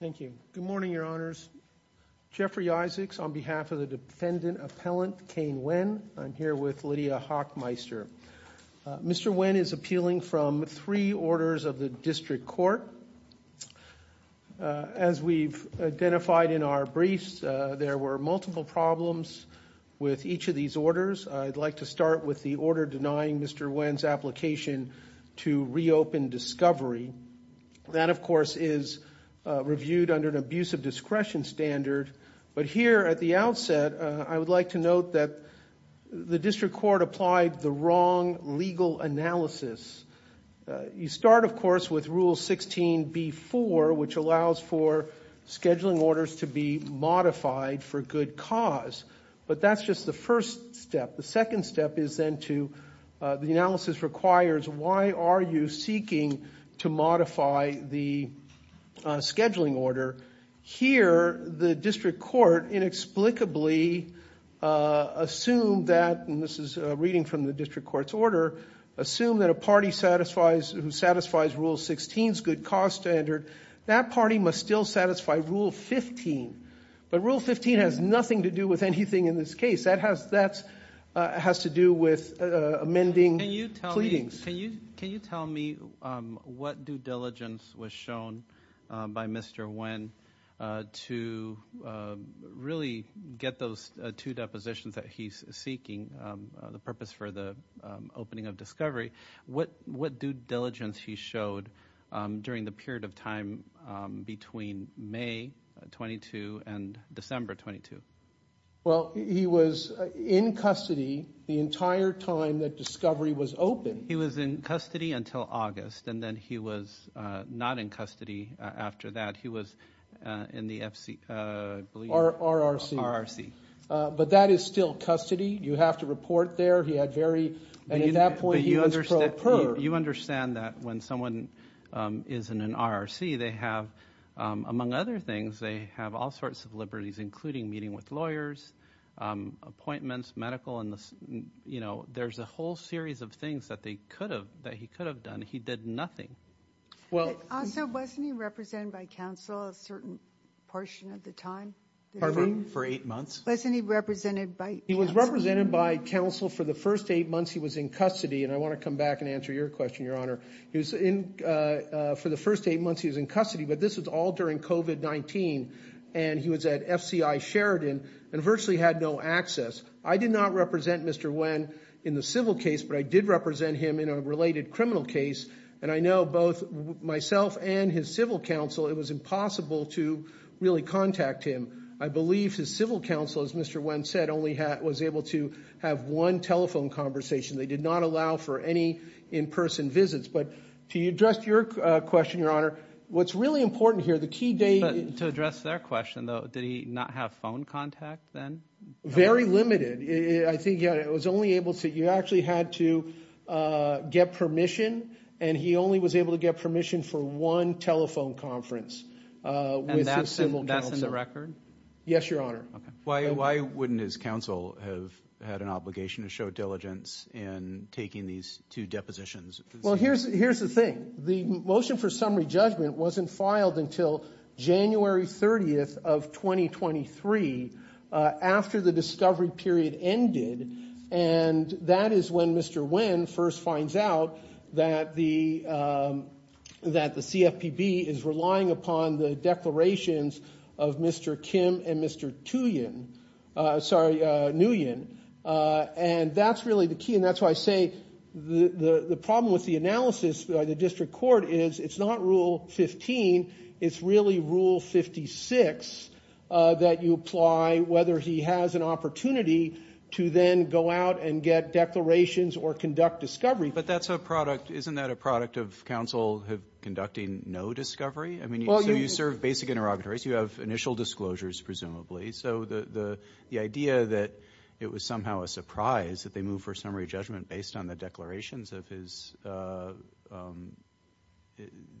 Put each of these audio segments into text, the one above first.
Thank you. Good morning, Your Honors. Jeffrey Isaacs on behalf of the Defendant Appellant Kaine Wen. I'm here with Lydia Hochmeister. Mr. Wen is appealing from three orders of the District Court. As we've identified in our briefs, there were multiple problems with each of these orders. I'd like to start with the order denying Mr. Wen's application to reopen discovery. That, of course, is reviewed under an abuse of discretion standard. But here at the outset, I would like to note that the District Court applied the wrong legal analysis. You start, of course, with Rule 16b-4, which allows for scheduling orders to be modified for good cause. But that's just the first step. The second step is then to, the analysis requires, why are you seeking to modify the scheduling order? Here, the District Court inexplicably assumed that, and this is a reading from the District Court's order, assumed that a party who satisfies Rule 16's good cause standard, that party must still satisfy Rule 15. But Rule 15 has nothing to do with anything in this case. That has to do with amending pleadings. Can you tell me what due diligence was shown by Mr. Wen to really get those two depositions that he's seeking, the purpose for the opening of discovery, what due diligence he showed during the period of time between May 22 and December 22? Well, he was in custody the entire time that discovery was open. He was in custody until August, and then he was not in custody after that. He was in the FC, I believe. RRC. RRC. But that is still custody. You have to report there. He had very, and at that point he was pro per. You understand that when someone is in an RRC, they have, among other things, they have all sorts of liberties, including meeting with lawyers, appointments, medical, and there's a whole series of things that they could have, that he could have done. He did nothing. Also, wasn't he represented by counsel a certain portion of the time? For eight months? Wasn't he represented by counsel? He was represented by counsel for the first eight months he was in custody, and I want to come back and answer your question, Your Honor. For the first eight months he was in custody, but this was all during COVID-19, and he was at FCI Sheridan and virtually had no access. I did not represent Mr. Wen in the civil case, but I did represent him in a related criminal case, and I know both myself and his civil counsel, it was impossible to really contact him. I believe his civil counsel, as Mr. Wen said, only was able to have one telephone conversation. They did not allow for any in-person visits, but to address your question, Your Honor, what's really important here, the key date... To address their question, though, did he not have phone contact then? Very limited. I think he was only able to... You actually had to get permission, and he only was able to get permission for one telephone conference with his civil counsel. Is this in the record? Yes, Your Honor. Okay. Why wouldn't his counsel have had an obligation to show diligence in taking these two depositions? Well, here's the thing. The motion for summary judgment wasn't filed until January 30th of 2023, after the discovery period ended, and that is when Mr. Wen first finds out that the CFPB is relying upon the declarations of Mr. Kim and Mr. Nguyen, and that's really the key, and that's why I say the problem with the analysis by the district court is it's not Rule 15, it's really Rule 56 that you apply whether he has an opportunity to then go out and get declarations or conduct discovery. But that's a product... Isn't that a product of counsel conducting no discovery? I mean, so you serve basic interrogatories, so you have initial disclosures, presumably, so the idea that it was somehow a surprise that they moved for summary judgment based on the declarations of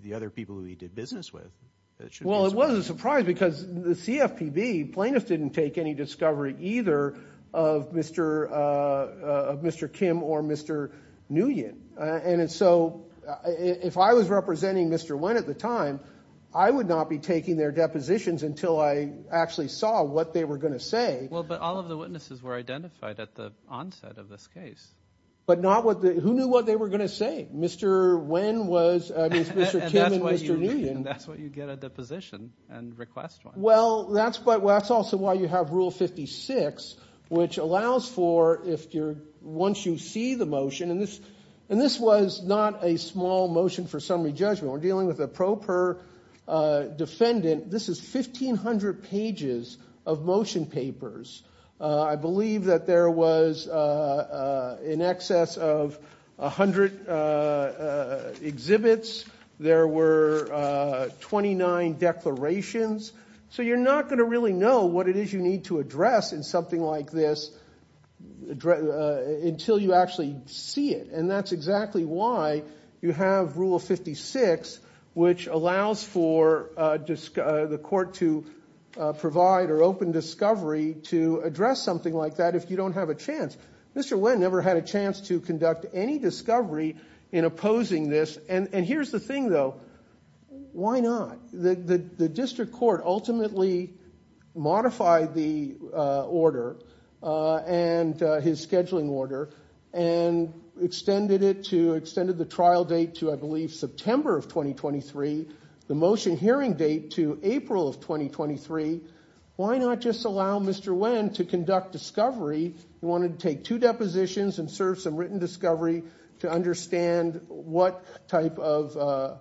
the other people who he did business with, that should be a surprise. Well, it was a surprise because the CFPB plaintiff didn't take any discovery either of Mr. Kim or Mr. Nguyen, and so if I was representing Mr. Wen at the time, I would not be taking their depositions until I actually saw what they were going to say. Well, but all of the witnesses were identified at the onset of this case. But not what the... Who knew what they were going to say? Mr. Wen was... I mean, it's Mr. Kim and Mr. Nguyen. And that's why you get a deposition and request one. Well, that's also why you have Rule 56, which allows for, once you see the motion, and this was not a small motion for summary judgment. We're dealing with a pro per defendant. This is 1,500 pages of motion papers. I believe that there was in excess of 100 exhibits. There were 29 declarations. So you're not going to really know what it is you need to address in something like this until you actually see it. And that's exactly why you have Rule 56, which allows for the court to provide or open discovery to address something like that if you don't have a chance. Mr. Wen never had a chance to conduct any discovery in opposing this. And here's the thing, though. Why not? The district court ultimately modified the order and his scheduling order and extended it to... Extended the trial date to, I believe, September of 2023. The motion hearing date to April of 2023. Why not just allow Mr. Wen to conduct discovery? He wanted to take two depositions and serve some written discovery to understand what type of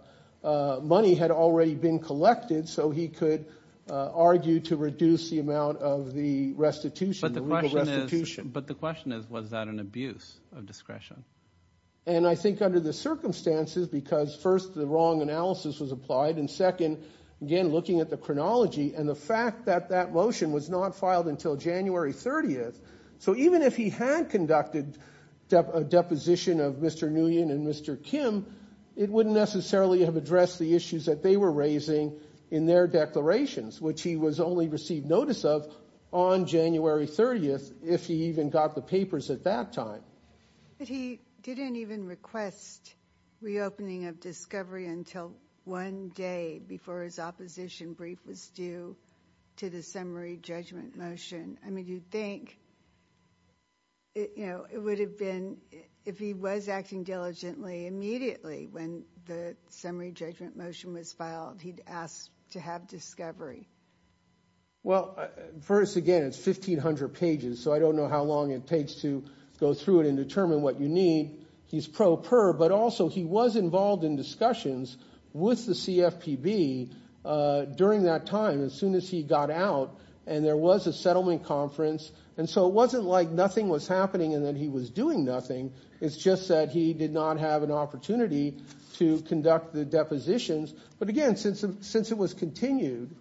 money had already been collected so he could argue to reduce the amount of the restitution, the legal restitution. But the question is, was that an abuse of discretion? And I think under the circumstances, because first, the wrong analysis was applied, and second, again, looking at the chronology and the fact that that motion was not filed until January 30th. So even if he had conducted a deposition of Mr. Nguyen and Mr. Kim, it wouldn't necessarily have addressed the issues that they were raising in their declarations, which he was only received notice of on January 30th, if he even got the papers at that time. But he didn't even request reopening of discovery until one day before his opposition brief was due to the summary judgment motion. I mean, you'd think it would have been... If he was acting diligently, immediately when the summary judgment motion was filed, he'd ask to have discovery. Well, first, again, it's 1,500 pages, so I don't know how long it takes to go through it and determine what you need. He's pro per, but also he was involved in discussions with the CFPB during that time, as soon as he got out, and there was a settlement conference. And so it wasn't like nothing was happening and that he was doing nothing. It's just that he did not have an opportunity to conduct the depositions. But again, since it was continued,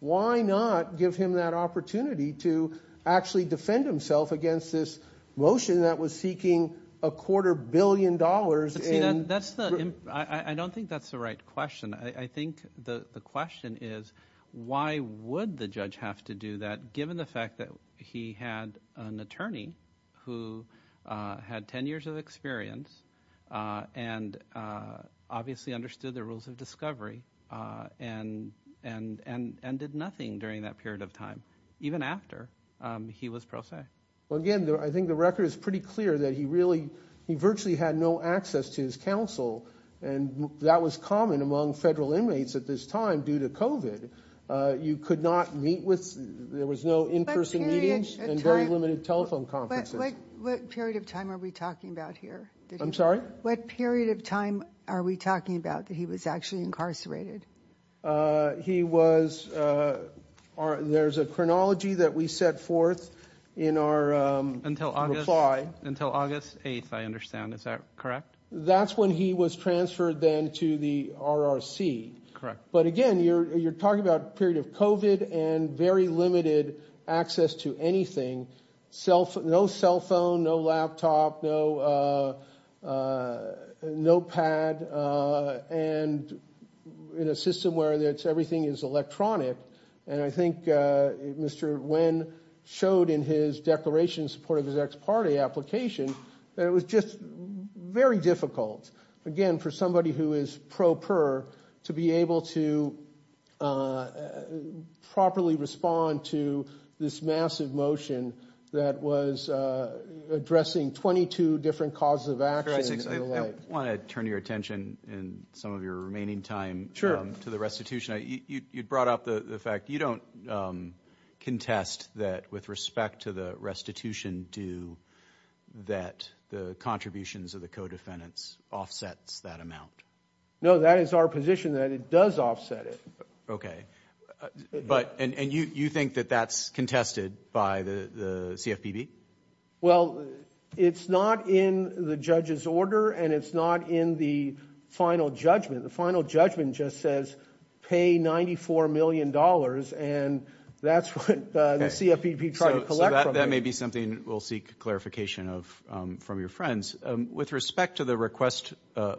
why not give him that opportunity to actually defend himself against this motion that was seeking a quarter billion dollars in... I don't think that's the right question. I think the question is, why would the judge have to do that, given the fact that he had an attorney who had 10 years of experience, and obviously understood the rules of discovery, and did nothing during that period of time, even after he was pro se? Well, again, I think the record is pretty clear that he virtually had no access to his counsel, and that was common among federal inmates at this time due to COVID. You could not meet with... There was no in-person meetings and very limited telephone conferences. What period of time are we talking about here? I'm sorry? What period of time are we talking about that he was actually incarcerated? He was... There's a chronology that we set forth in our reply. Until August 8th, I understand. Is that correct? That's when he was transferred then to the RRC. Correct. But again, you're talking about a period of COVID and very limited access to anything. No cell phone, no laptop, no pad, and in a system where everything is electronic. And I think Mr. Nguyen showed in his declaration in support of his ex parte application that it was just very difficult, again, for somebody who is pro per, to be able to properly respond to this massive motion that was addressing 22 different causes of action and the like. I want to turn your attention in some of your remaining time to the restitution. You brought up the fact you don't contest that with respect to the restitution due that the contributions of the co-defendants offsets that amount. No, that is our position that it does offset it. Okay. But, and you think that that's contested by the CFPB? Well, it's not in the judge's order and it's not in the final judgment. The final judgment just says pay $94 million and that's what the CFPB tried to collect. That may be something we'll seek clarification of from your friends. With respect to the request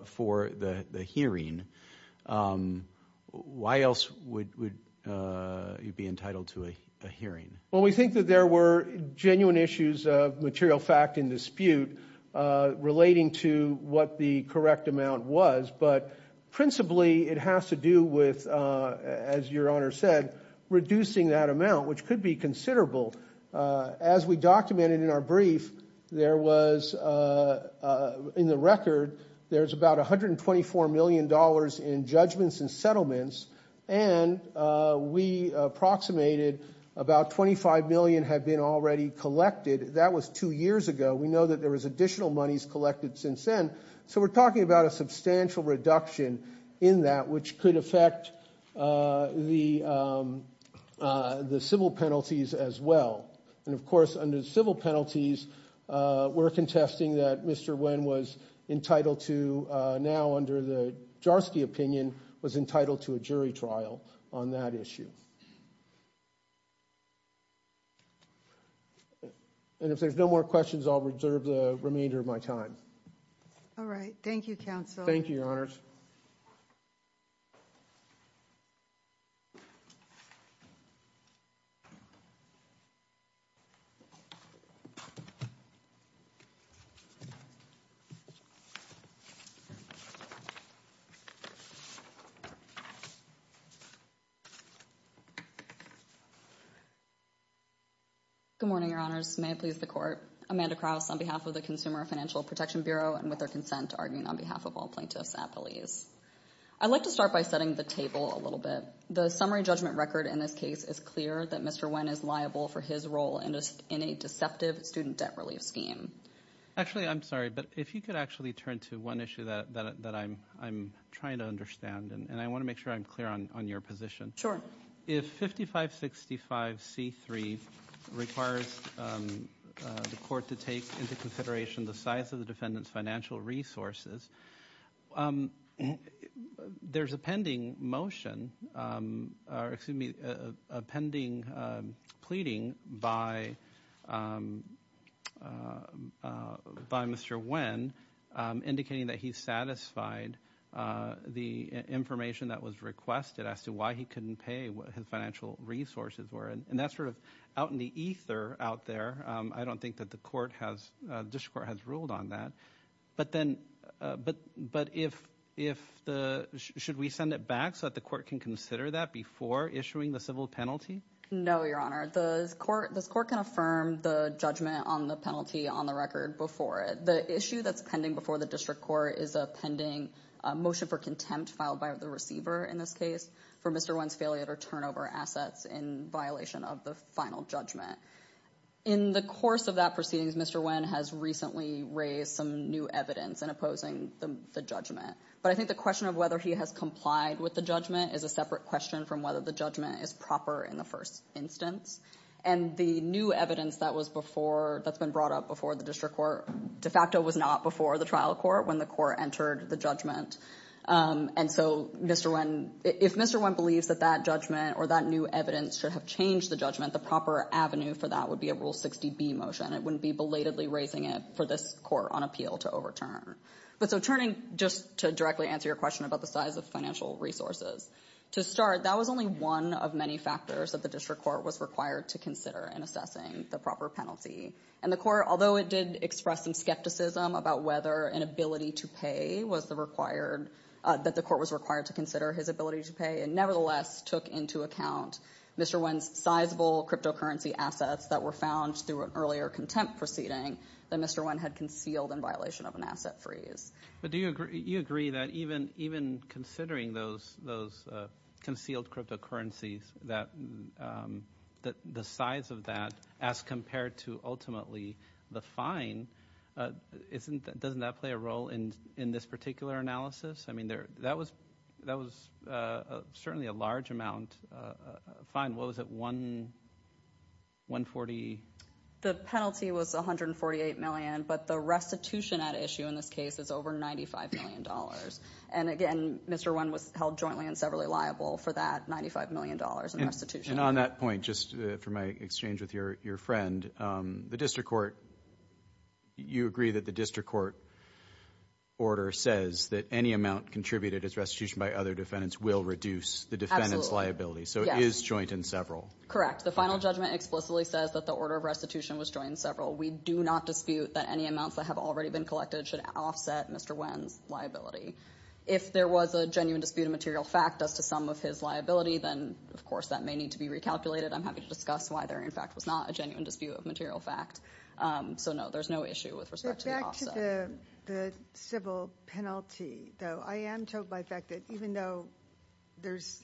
for the hearing, why else would you be entitled to a hearing? Well, we think that there were genuine issues of material fact and dispute relating to what the correct amount was. But principally, it has to do with, as your Honor said, reducing that amount, which could be considerable. As we documented in our brief, there was, in the record, there's about $124 million in judgments and settlements. And we approximated about $25 million had been already collected. That was two years ago. We know that there was additional monies collected since then. So we're talking about a substantial reduction in that, which could affect the civil penalties as well. And of course, under civil penalties, we're contesting that Mr. Nguyen was entitled to, now under the Jarsky opinion, was entitled to a jury trial on that issue. And if there's no more questions, I'll reserve the remainder of my time. All right. Thank you, Counsel. Thank you, Your Honors. Thank you. Good morning, Your Honors. May it please the Court. Amanda Krauss on behalf of the Consumer Financial Protection Bureau, and with their consent, arguing on behalf of all plaintiffs at police. I'd like to start by setting the table a little bit. The summary judgment record in this case is clear that Mr. Nguyen is liable for his role in a deceptive student debt relief scheme. Actually, I'm sorry, but if you could actually turn to one issue that I'm trying to understand, and I want to make sure I'm clear on your position. Sure. If 5565C3 requires the Court to take into consideration the size of the defendant's financial resources, there's a pending motion, or excuse me, a pending pleading by Mr. Nguyen indicating that he satisfied the information that was requested as to why he couldn't pay what his financial resources were. And that's sort of out in the ether out there. I don't think that the court has, the district court has ruled on that. But then, but, but if, if the, should we send it back so that the court can consider that before issuing the civil penalty? No, Your Honor. The court, this court can affirm the judgment on the penalty on the record before it. The issue that's pending before the district court is a pending motion for contempt filed by the receiver in this case for Mr. Nguyen's failure to return over assets in violation of the final judgment. In the course of that proceedings, Mr. Nguyen has recently raised some new evidence in opposing the judgment. But I think the question of whether he has complied with the judgment is a separate question from whether the judgment is proper in the first instance. And the new evidence that was before, that's been brought up before the district court de facto was not before the trial court when the court entered the judgment. And so Mr. Nguyen, if Mr. Nguyen believes that that judgment or that new evidence should have changed the judgment, the proper avenue for that would be a Rule 60B motion. It wouldn't be belatedly raising it for this court on appeal to overturn. But so turning just to directly answer your question about the size of financial resources. To start, that was only one of many factors that the district court was required to consider in assessing the proper penalty. And the court, although it did express some skepticism about whether an ability to pay was the required, that the court was required to consider his ability to pay, and nevertheless took into account Mr. Nguyen's sizable cryptocurrency assets that were found through an earlier contempt proceeding that Mr. Nguyen had concealed in violation of an asset freeze. But do you agree that even considering those concealed cryptocurrencies, the size of that as compared to ultimately the fine, doesn't that play a role in this particular analysis? I mean, that was certainly a large amount. Fine, what was it, 140? The penalty was $148 million, but the restitution at issue in this case is over $95 million. And again, Mr. Nguyen was held jointly and severally liable for that $95 million in restitution. And on that point, just for my exchange with your friend, the district court, you agree that the district court order says that any amount contributed as restitution by other defendants will reduce the defendant's liability. So it is joint and several. The final judgment explicitly says that the order of restitution was joint and several. We do not dispute that any amounts that have already been collected should offset Mr. Nguyen's liability. If there was a genuine dispute of material fact as to some of his liability, then of course that may need to be recalculated. I'm happy to discuss why there in fact was not a genuine dispute of material fact. So no, there's no issue with respect to the offset. The civil penalty, though, I am told by fact that even though there's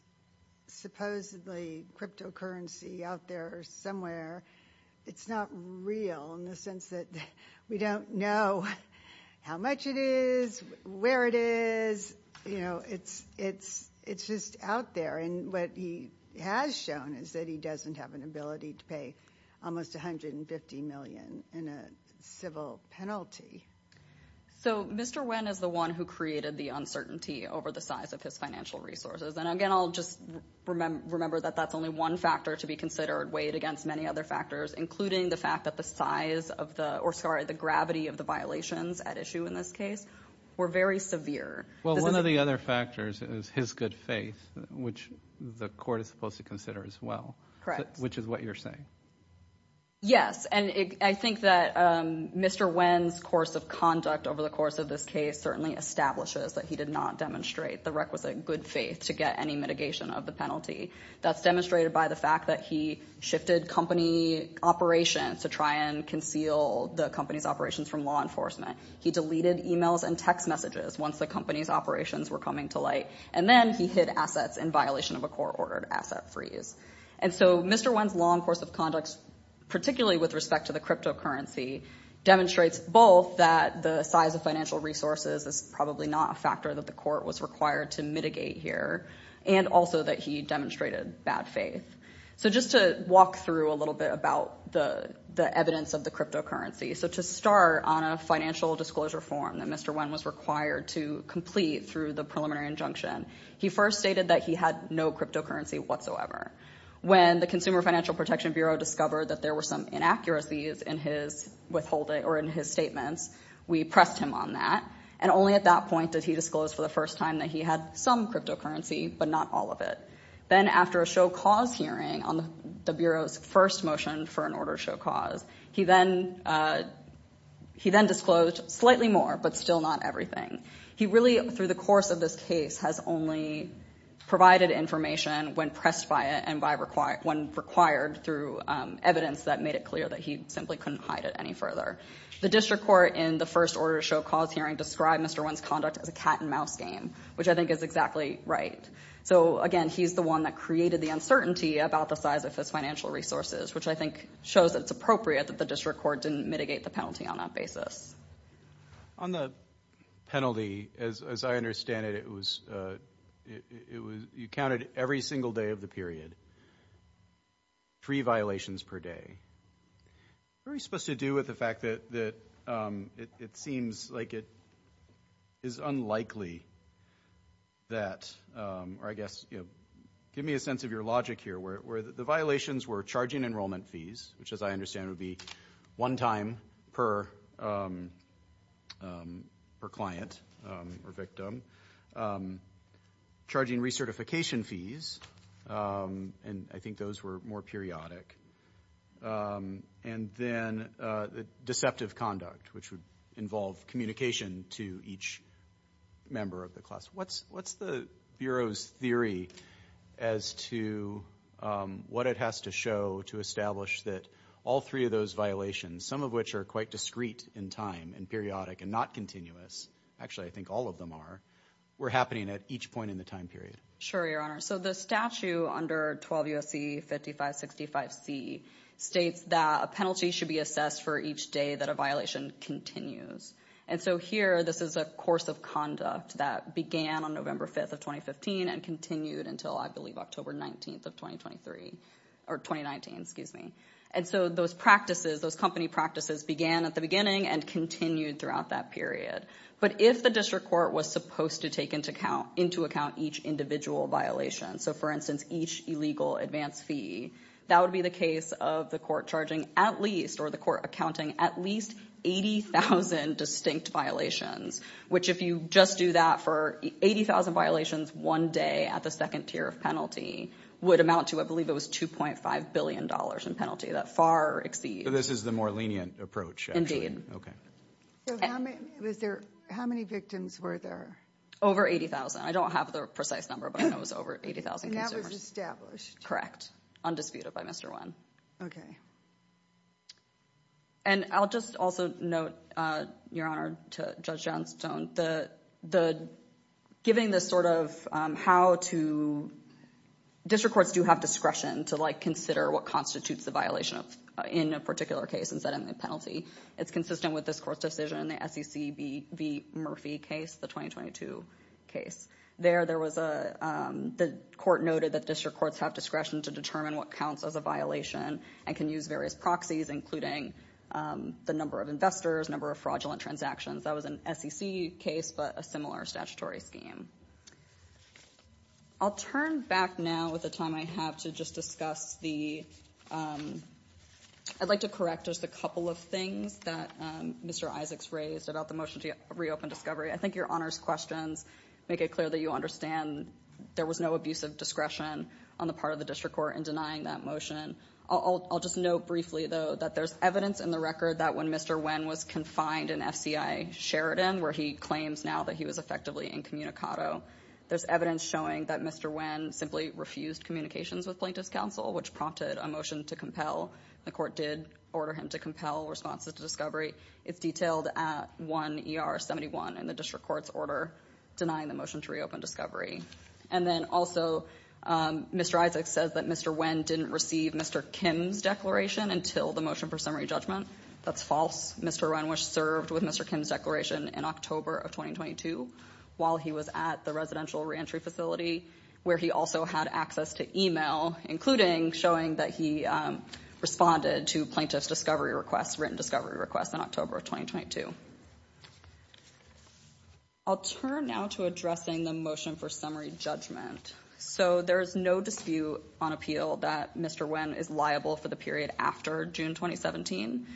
supposedly cryptocurrency out there somewhere, it's not real in the sense that we don't know how much it is, where it is. You know, it's just out there. And what he has shown is that he doesn't have an ability to pay almost $150 million in a civil penalty. So Mr. Nguyen is the one who created the uncertainty over the size of his financial resources. And again, I'll just remember that that's only one factor to be considered, weighed against many other factors, including the fact that the size of the, or sorry, the gravity of the violations at issue in this case were very severe. Well, one of the other factors is his good faith, which the court is supposed to consider as well. Correct. Which is what you're saying. Yes, and I think that Mr. Nguyen's course of conduct over the course of this case certainly establishes that he did not demonstrate the requisite good faith to get any mitigation of the penalty. That's demonstrated by the fact that he shifted company operations to try and conceal the company's operations from law enforcement. He deleted emails and text messages once the company's operations were coming to light. And then he hid assets in violation of a court-ordered asset freeze. And so Mr. Nguyen's long course of conduct, particularly with respect to the cryptocurrency, demonstrates both that the size of financial resources is probably not a factor that the court was required to mitigate here, and also that he demonstrated bad faith. So just to walk through a little bit about the evidence of the cryptocurrency. So to start on a financial disclosure form that Mr. Nguyen was required to complete through the preliminary injunction, he first stated that he had no cryptocurrency whatsoever. When the Consumer Financial Protection Bureau discovered that there were some inaccuracies in his statements, we pressed him on that. And only at that point did he disclose for the first time that he had some cryptocurrency, but not all of it. Then after a show cause hearing on the Bureau's first motion for an order show cause, he then disclosed slightly more, but still not everything. He really, through the course of this case, has only provided information when pressed by it when required through evidence that made it clear that he simply couldn't hide it any further. The district court in the first order show cause hearing described Mr. Nguyen's conduct as a cat and mouse game, which I think is exactly right. So again, he's the one that created the uncertainty about the size of his financial resources, which I think shows that it's appropriate that the district court didn't mitigate the penalty on that basis. On the penalty, as I understand it, it was, you counted every single day of the period, three violations per day. What are we supposed to do with the fact that it seems like it is unlikely that, or I guess, give me a sense of your logic here, where the violations were charging enrollment fees, which as I understand would be one time per client or victim, charging recertification fees, and I think those were more periodic, and then deceptive conduct, which would involve communication to each member of the class. What's the Bureau's theory as to what it has to show to establish that all three of those violations, some of which are quite discreet in time and periodic and not continuous, actually, I think all of them are, were happening at each point in the time period? Sure, Your Honor. So the statute under 12 U.S.C. 5565C states that a penalty should be assessed for each day that a violation continues. And so here, this is a course of conduct that began on November 5th of 2015 and continued until I believe October 19th of 2023, or 2019, excuse me. And so those practices, those company practices began at the beginning and continued throughout that period. But if the district court was supposed to take into account each individual violation, so for instance, each illegal advance fee, that would be the case of the court charging at least, or the court accounting at least 80,000 distinct violations, which if you just do that for 80,000 violations one day at the second tier of penalty would amount to, I believe it was $2.5 billion in penalty, that far exceeds. This is the more lenient approach. Okay. So how many victims were there? Over 80,000. I don't have the precise number, but I know it was over 80,000. And that was established? Correct. Undisputed by Mr. Nguyen. And I'll just also note, Your Honor, to Judge Johnstone, giving this sort of how to, district courts do have discretion to like consider what constitutes the violation in a particular case instead of the penalty. It's consistent with this court's decision in the SEC v. Murphy case, the 2022 case. There, there was a, the court noted that district courts have discretion to determine what counts as a violation and can use various proxies, including the number of investors, number of fraudulent transactions. That was an SEC case, but a similar statutory scheme. I'll turn back now with the time I have to just discuss the, I'd like to correct just a couple of things that Mr. Isaacs raised about the motion to reopen discovery. I think Your Honor's questions make it clear that you understand there was no abusive discretion on the part of the district court in denying that motion. I'll just note briefly though, that there's evidence in the record that when Mr. Nguyen was confined in FCI Sheridan, where he claims now that he was effectively incommunicado, there's evidence showing that Mr. Nguyen simply refused communications with plaintiff's counsel, which prompted him to resign. It prompted a motion to compel. The court did order him to compel responses to discovery. It's detailed at 1 ER 71 in the district court's order, denying the motion to reopen discovery. And then also, Mr. Isaacs says that Mr. Nguyen didn't receive Mr. Kim's declaration until the motion for summary judgment. That's false. Mr. Nguyen served with Mr. Kim's declaration in October of 2022, while he was at the residential re-entry facility, where he also had access to email, including showing that he responded to plaintiff's discovery requests, written discovery requests in October of 2022. I'll turn now to addressing the motion for summary judgment. So there's no dispute on appeal that Mr. Nguyen is liable for the period after June, 2017.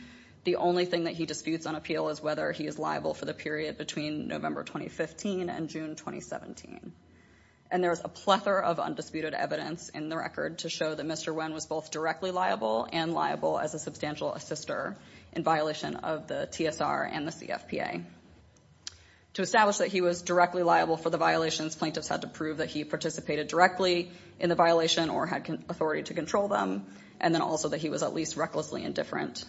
The only thing that he disputes on appeal is whether he is liable for the period between November, 2015 and June, 2017. And there's a plethora of undisputed evidence in the record to show that Mr. Nguyen was both directly liable and liable as a substantial assister in violation of the TSR and the CFPA. To establish that he was directly liable for the violations, plaintiffs had to prove that he participated directly in the violation or had authority to control them. And then also that he was at least recklessly indifferent.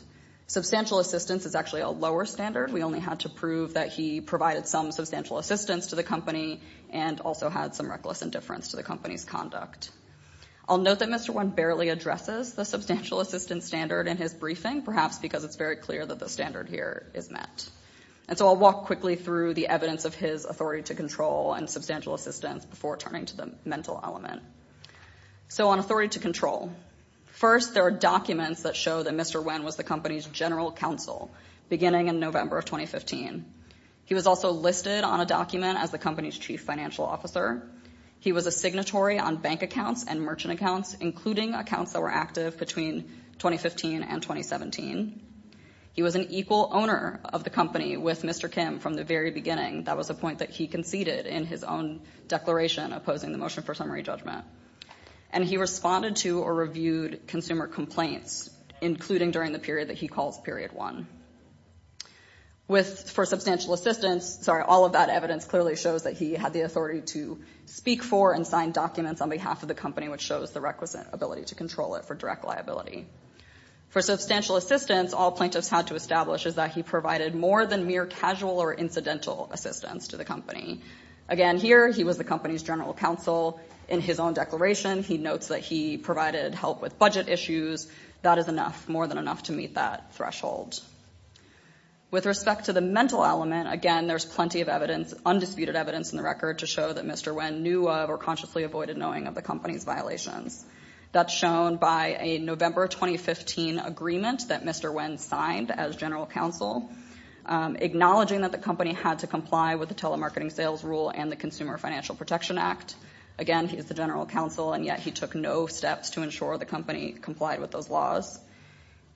Substantial assistance is actually a lower standard. We only had to prove that he provided some substantial assistance to the company and also had some reckless indifference to the company's conduct. I'll note that Mr. Nguyen barely addresses the substantial assistance standard in his briefing, perhaps because it's very clear that the standard here is met. And so I'll walk quickly through the evidence of his authority to control and substantial assistance before turning to the mental element. So on authority to control. First, there are documents that show that Mr. Nguyen was the company's general counsel beginning in November of 2015. He was also listed on a document as the company's chief financial officer. He was a signatory on bank accounts and merchant accounts, including accounts that were active between 2015 and 2017. He was an equal owner of the company with Mr. Kim from the very beginning. That was a point that he conceded in his own declaration opposing the motion for summary judgment. And he responded to or reviewed consumer complaints, including during the period that he calls period one. For substantial assistance, sorry, all of that evidence clearly shows that he had the authority to speak for and sign documents on behalf of the company, which shows the requisite ability to control it for direct liability. For substantial assistance, all plaintiffs had to establish is that he provided more than mere casual or incidental assistance to the company. Again, here he was the company's general counsel in his own declaration. He notes that he provided help with budget issues. That is enough, more than enough to meet that threshold. With respect to the mental element, again, there's plenty of evidence, undisputed evidence in the record to show that Mr. Nguyen knew of or consciously avoided knowing of the company's violations. That's shown by a November 2015 agreement that Mr. Nguyen signed as general counsel, acknowledging that the company had to comply with the telemarketing sales rule and the Consumer Financial Protection Act. Again, he is the general counsel, and yet he took no steps to ensure the company complied with those laws.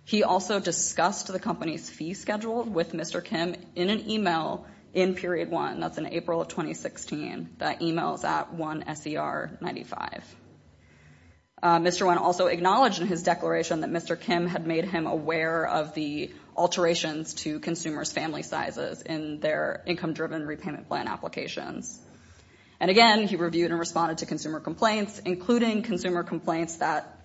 He also discussed the company's fee schedule with Mr. Kim in an email in period one. That's in April of 2016. That email is at 1SER95. Mr. Nguyen also acknowledged in his declaration that Mr. Kim had made him aware of the alterations to consumers' family sizes in their income-driven repayment plan applications. And again, he reviewed and responded to consumer complaints, including consumer complaints that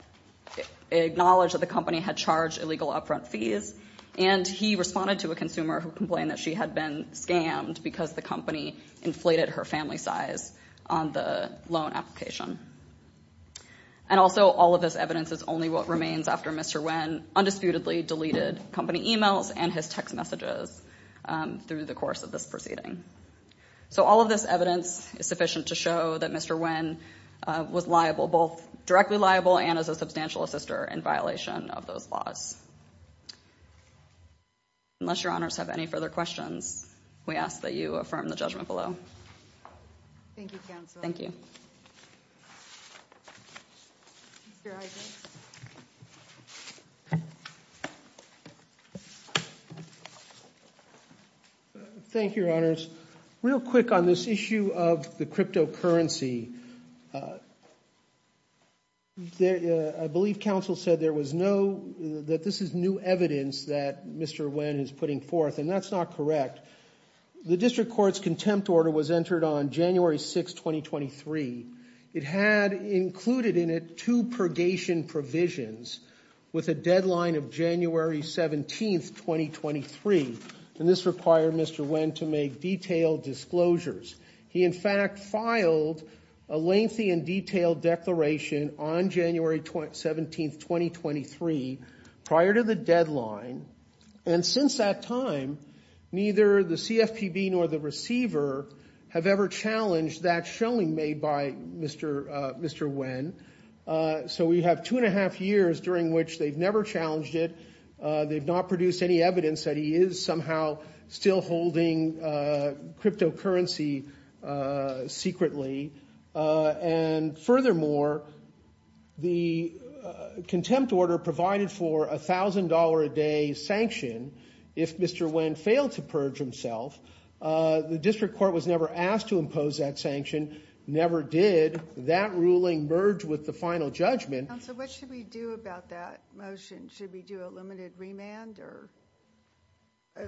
acknowledged that the company had charged illegal upfront fees, and he responded to a consumer who complained that she had been scammed because the company inflated her family size on the loan application. And also, all of this evidence is only what remains after Mr. Nguyen undisputedly deleted company emails and his text messages through the course of this proceeding. So all of this evidence is sufficient to show that Mr. Nguyen was liable, both directly liable and as a substantial assister in violation of those laws. Unless your honors have any further questions, we ask that you affirm the judgment below. Thank you, counsel. Thank you. Thank you, your honors. Real quick on this issue of the cryptocurrency. I believe counsel said there was no, that this is new evidence that Mr. Nguyen is putting forth, and that's not correct. The district court's contempt order was entered on January 6th, 2023. It had included in it two purgation provisions with a deadline of January 17th, 2023. And this required Mr. Nguyen to make detailed disclosures. He in fact filed a lengthy and detailed declaration on January 17th, 2023 prior to the deadline. And since that time, neither the CFPB nor the receiver have ever challenged that showing made by Mr. Nguyen. So we have two and a half years during which they've never challenged it. They've not produced any evidence that he is somehow still holding cryptocurrency secretly. And furthermore, the contempt order provided for a $1,000 a day sanction if Mr. Nguyen failed to purge himself. The district court was never asked to impose that sanction, never did. That ruling merged with the final judgment. Counsel, what should we do about that motion? Should we do a limited remand or?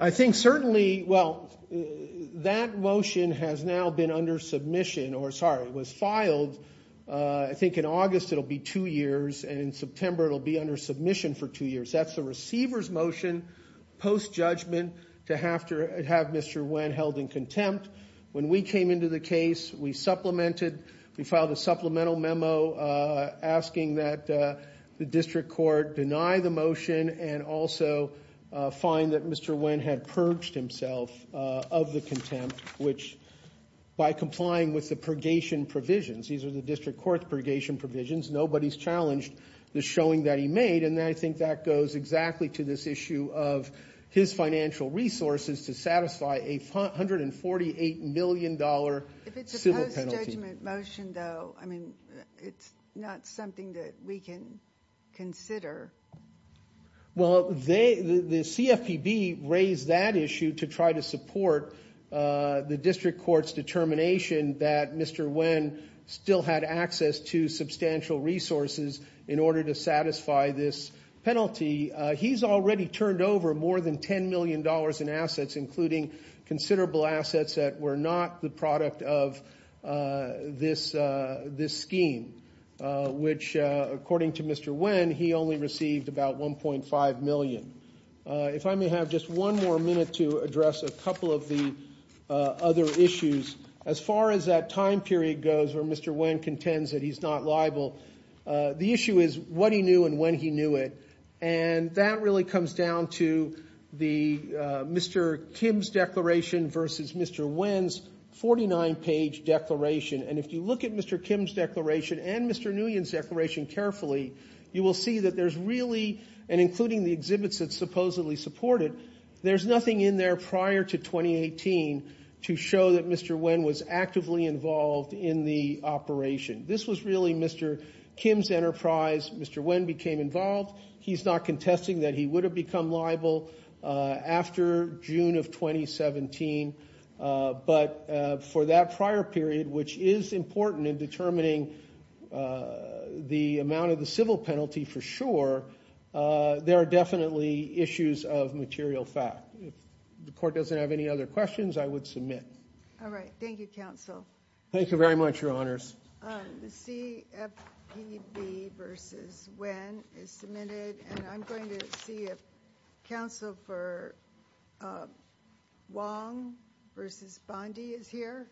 I think certainly, well, that motion has now been under submission, or sorry, was filed, I think in August it'll be two years, and in September it'll be under submission for two years. That's the receiver's motion post-judgment to have to have Mr. Nguyen held in contempt. When we came into the case, we supplemented, we filed a supplemental memo asking that the district court deny the motion and also find that Mr. Nguyen had purged himself of the contempt, which, by complying with the purgation provisions, these are the district court's purgation provisions, nobody's challenged the showing that he made, and I think that goes exactly to this issue of his financial resources to satisfy a $148 million civil penalty. If it's a post-judgment motion, though, I mean, it's not something that we can consider. Well, the CFPB raised that issue to try to support the district court's determination that Mr. Nguyen still had access to substantial resources in order to satisfy this penalty. He's already turned over more than $10 million in assets, including considerable assets that were not the product of this scheme, which, according to Mr. Nguyen, he only received about $1.5 million. If I may have just one more minute to address a couple of the other issues. As far as that time period goes where Mr. Nguyen contends that he's not liable, the issue is what he knew and when he knew it, and that really comes down to the Mr. Kim's declaration versus Mr. Nguyen's 49-page declaration. And if you look at Mr. Kim's declaration and Mr. Nguyen's declaration carefully, you will see that there's really, and including the exhibits that supposedly support it, there's nothing in there prior to 2018 to show that Mr. Nguyen was actively involved in the operation. This was really Mr. Kim's enterprise. Mr. Nguyen became involved. He's not contesting that he would have become liable after June of 2017. But for that prior period, which is important in determining the amount of the civil penalty for sure, there are definitely issues of material fact. If the Court doesn't have any other questions, I would submit. All right. Thank you, Counsel. Thank you very much, Your Honors. The CFPB versus Nguyen is submitted. And I'm going to see if Counsel for Wong versus Bondi is here.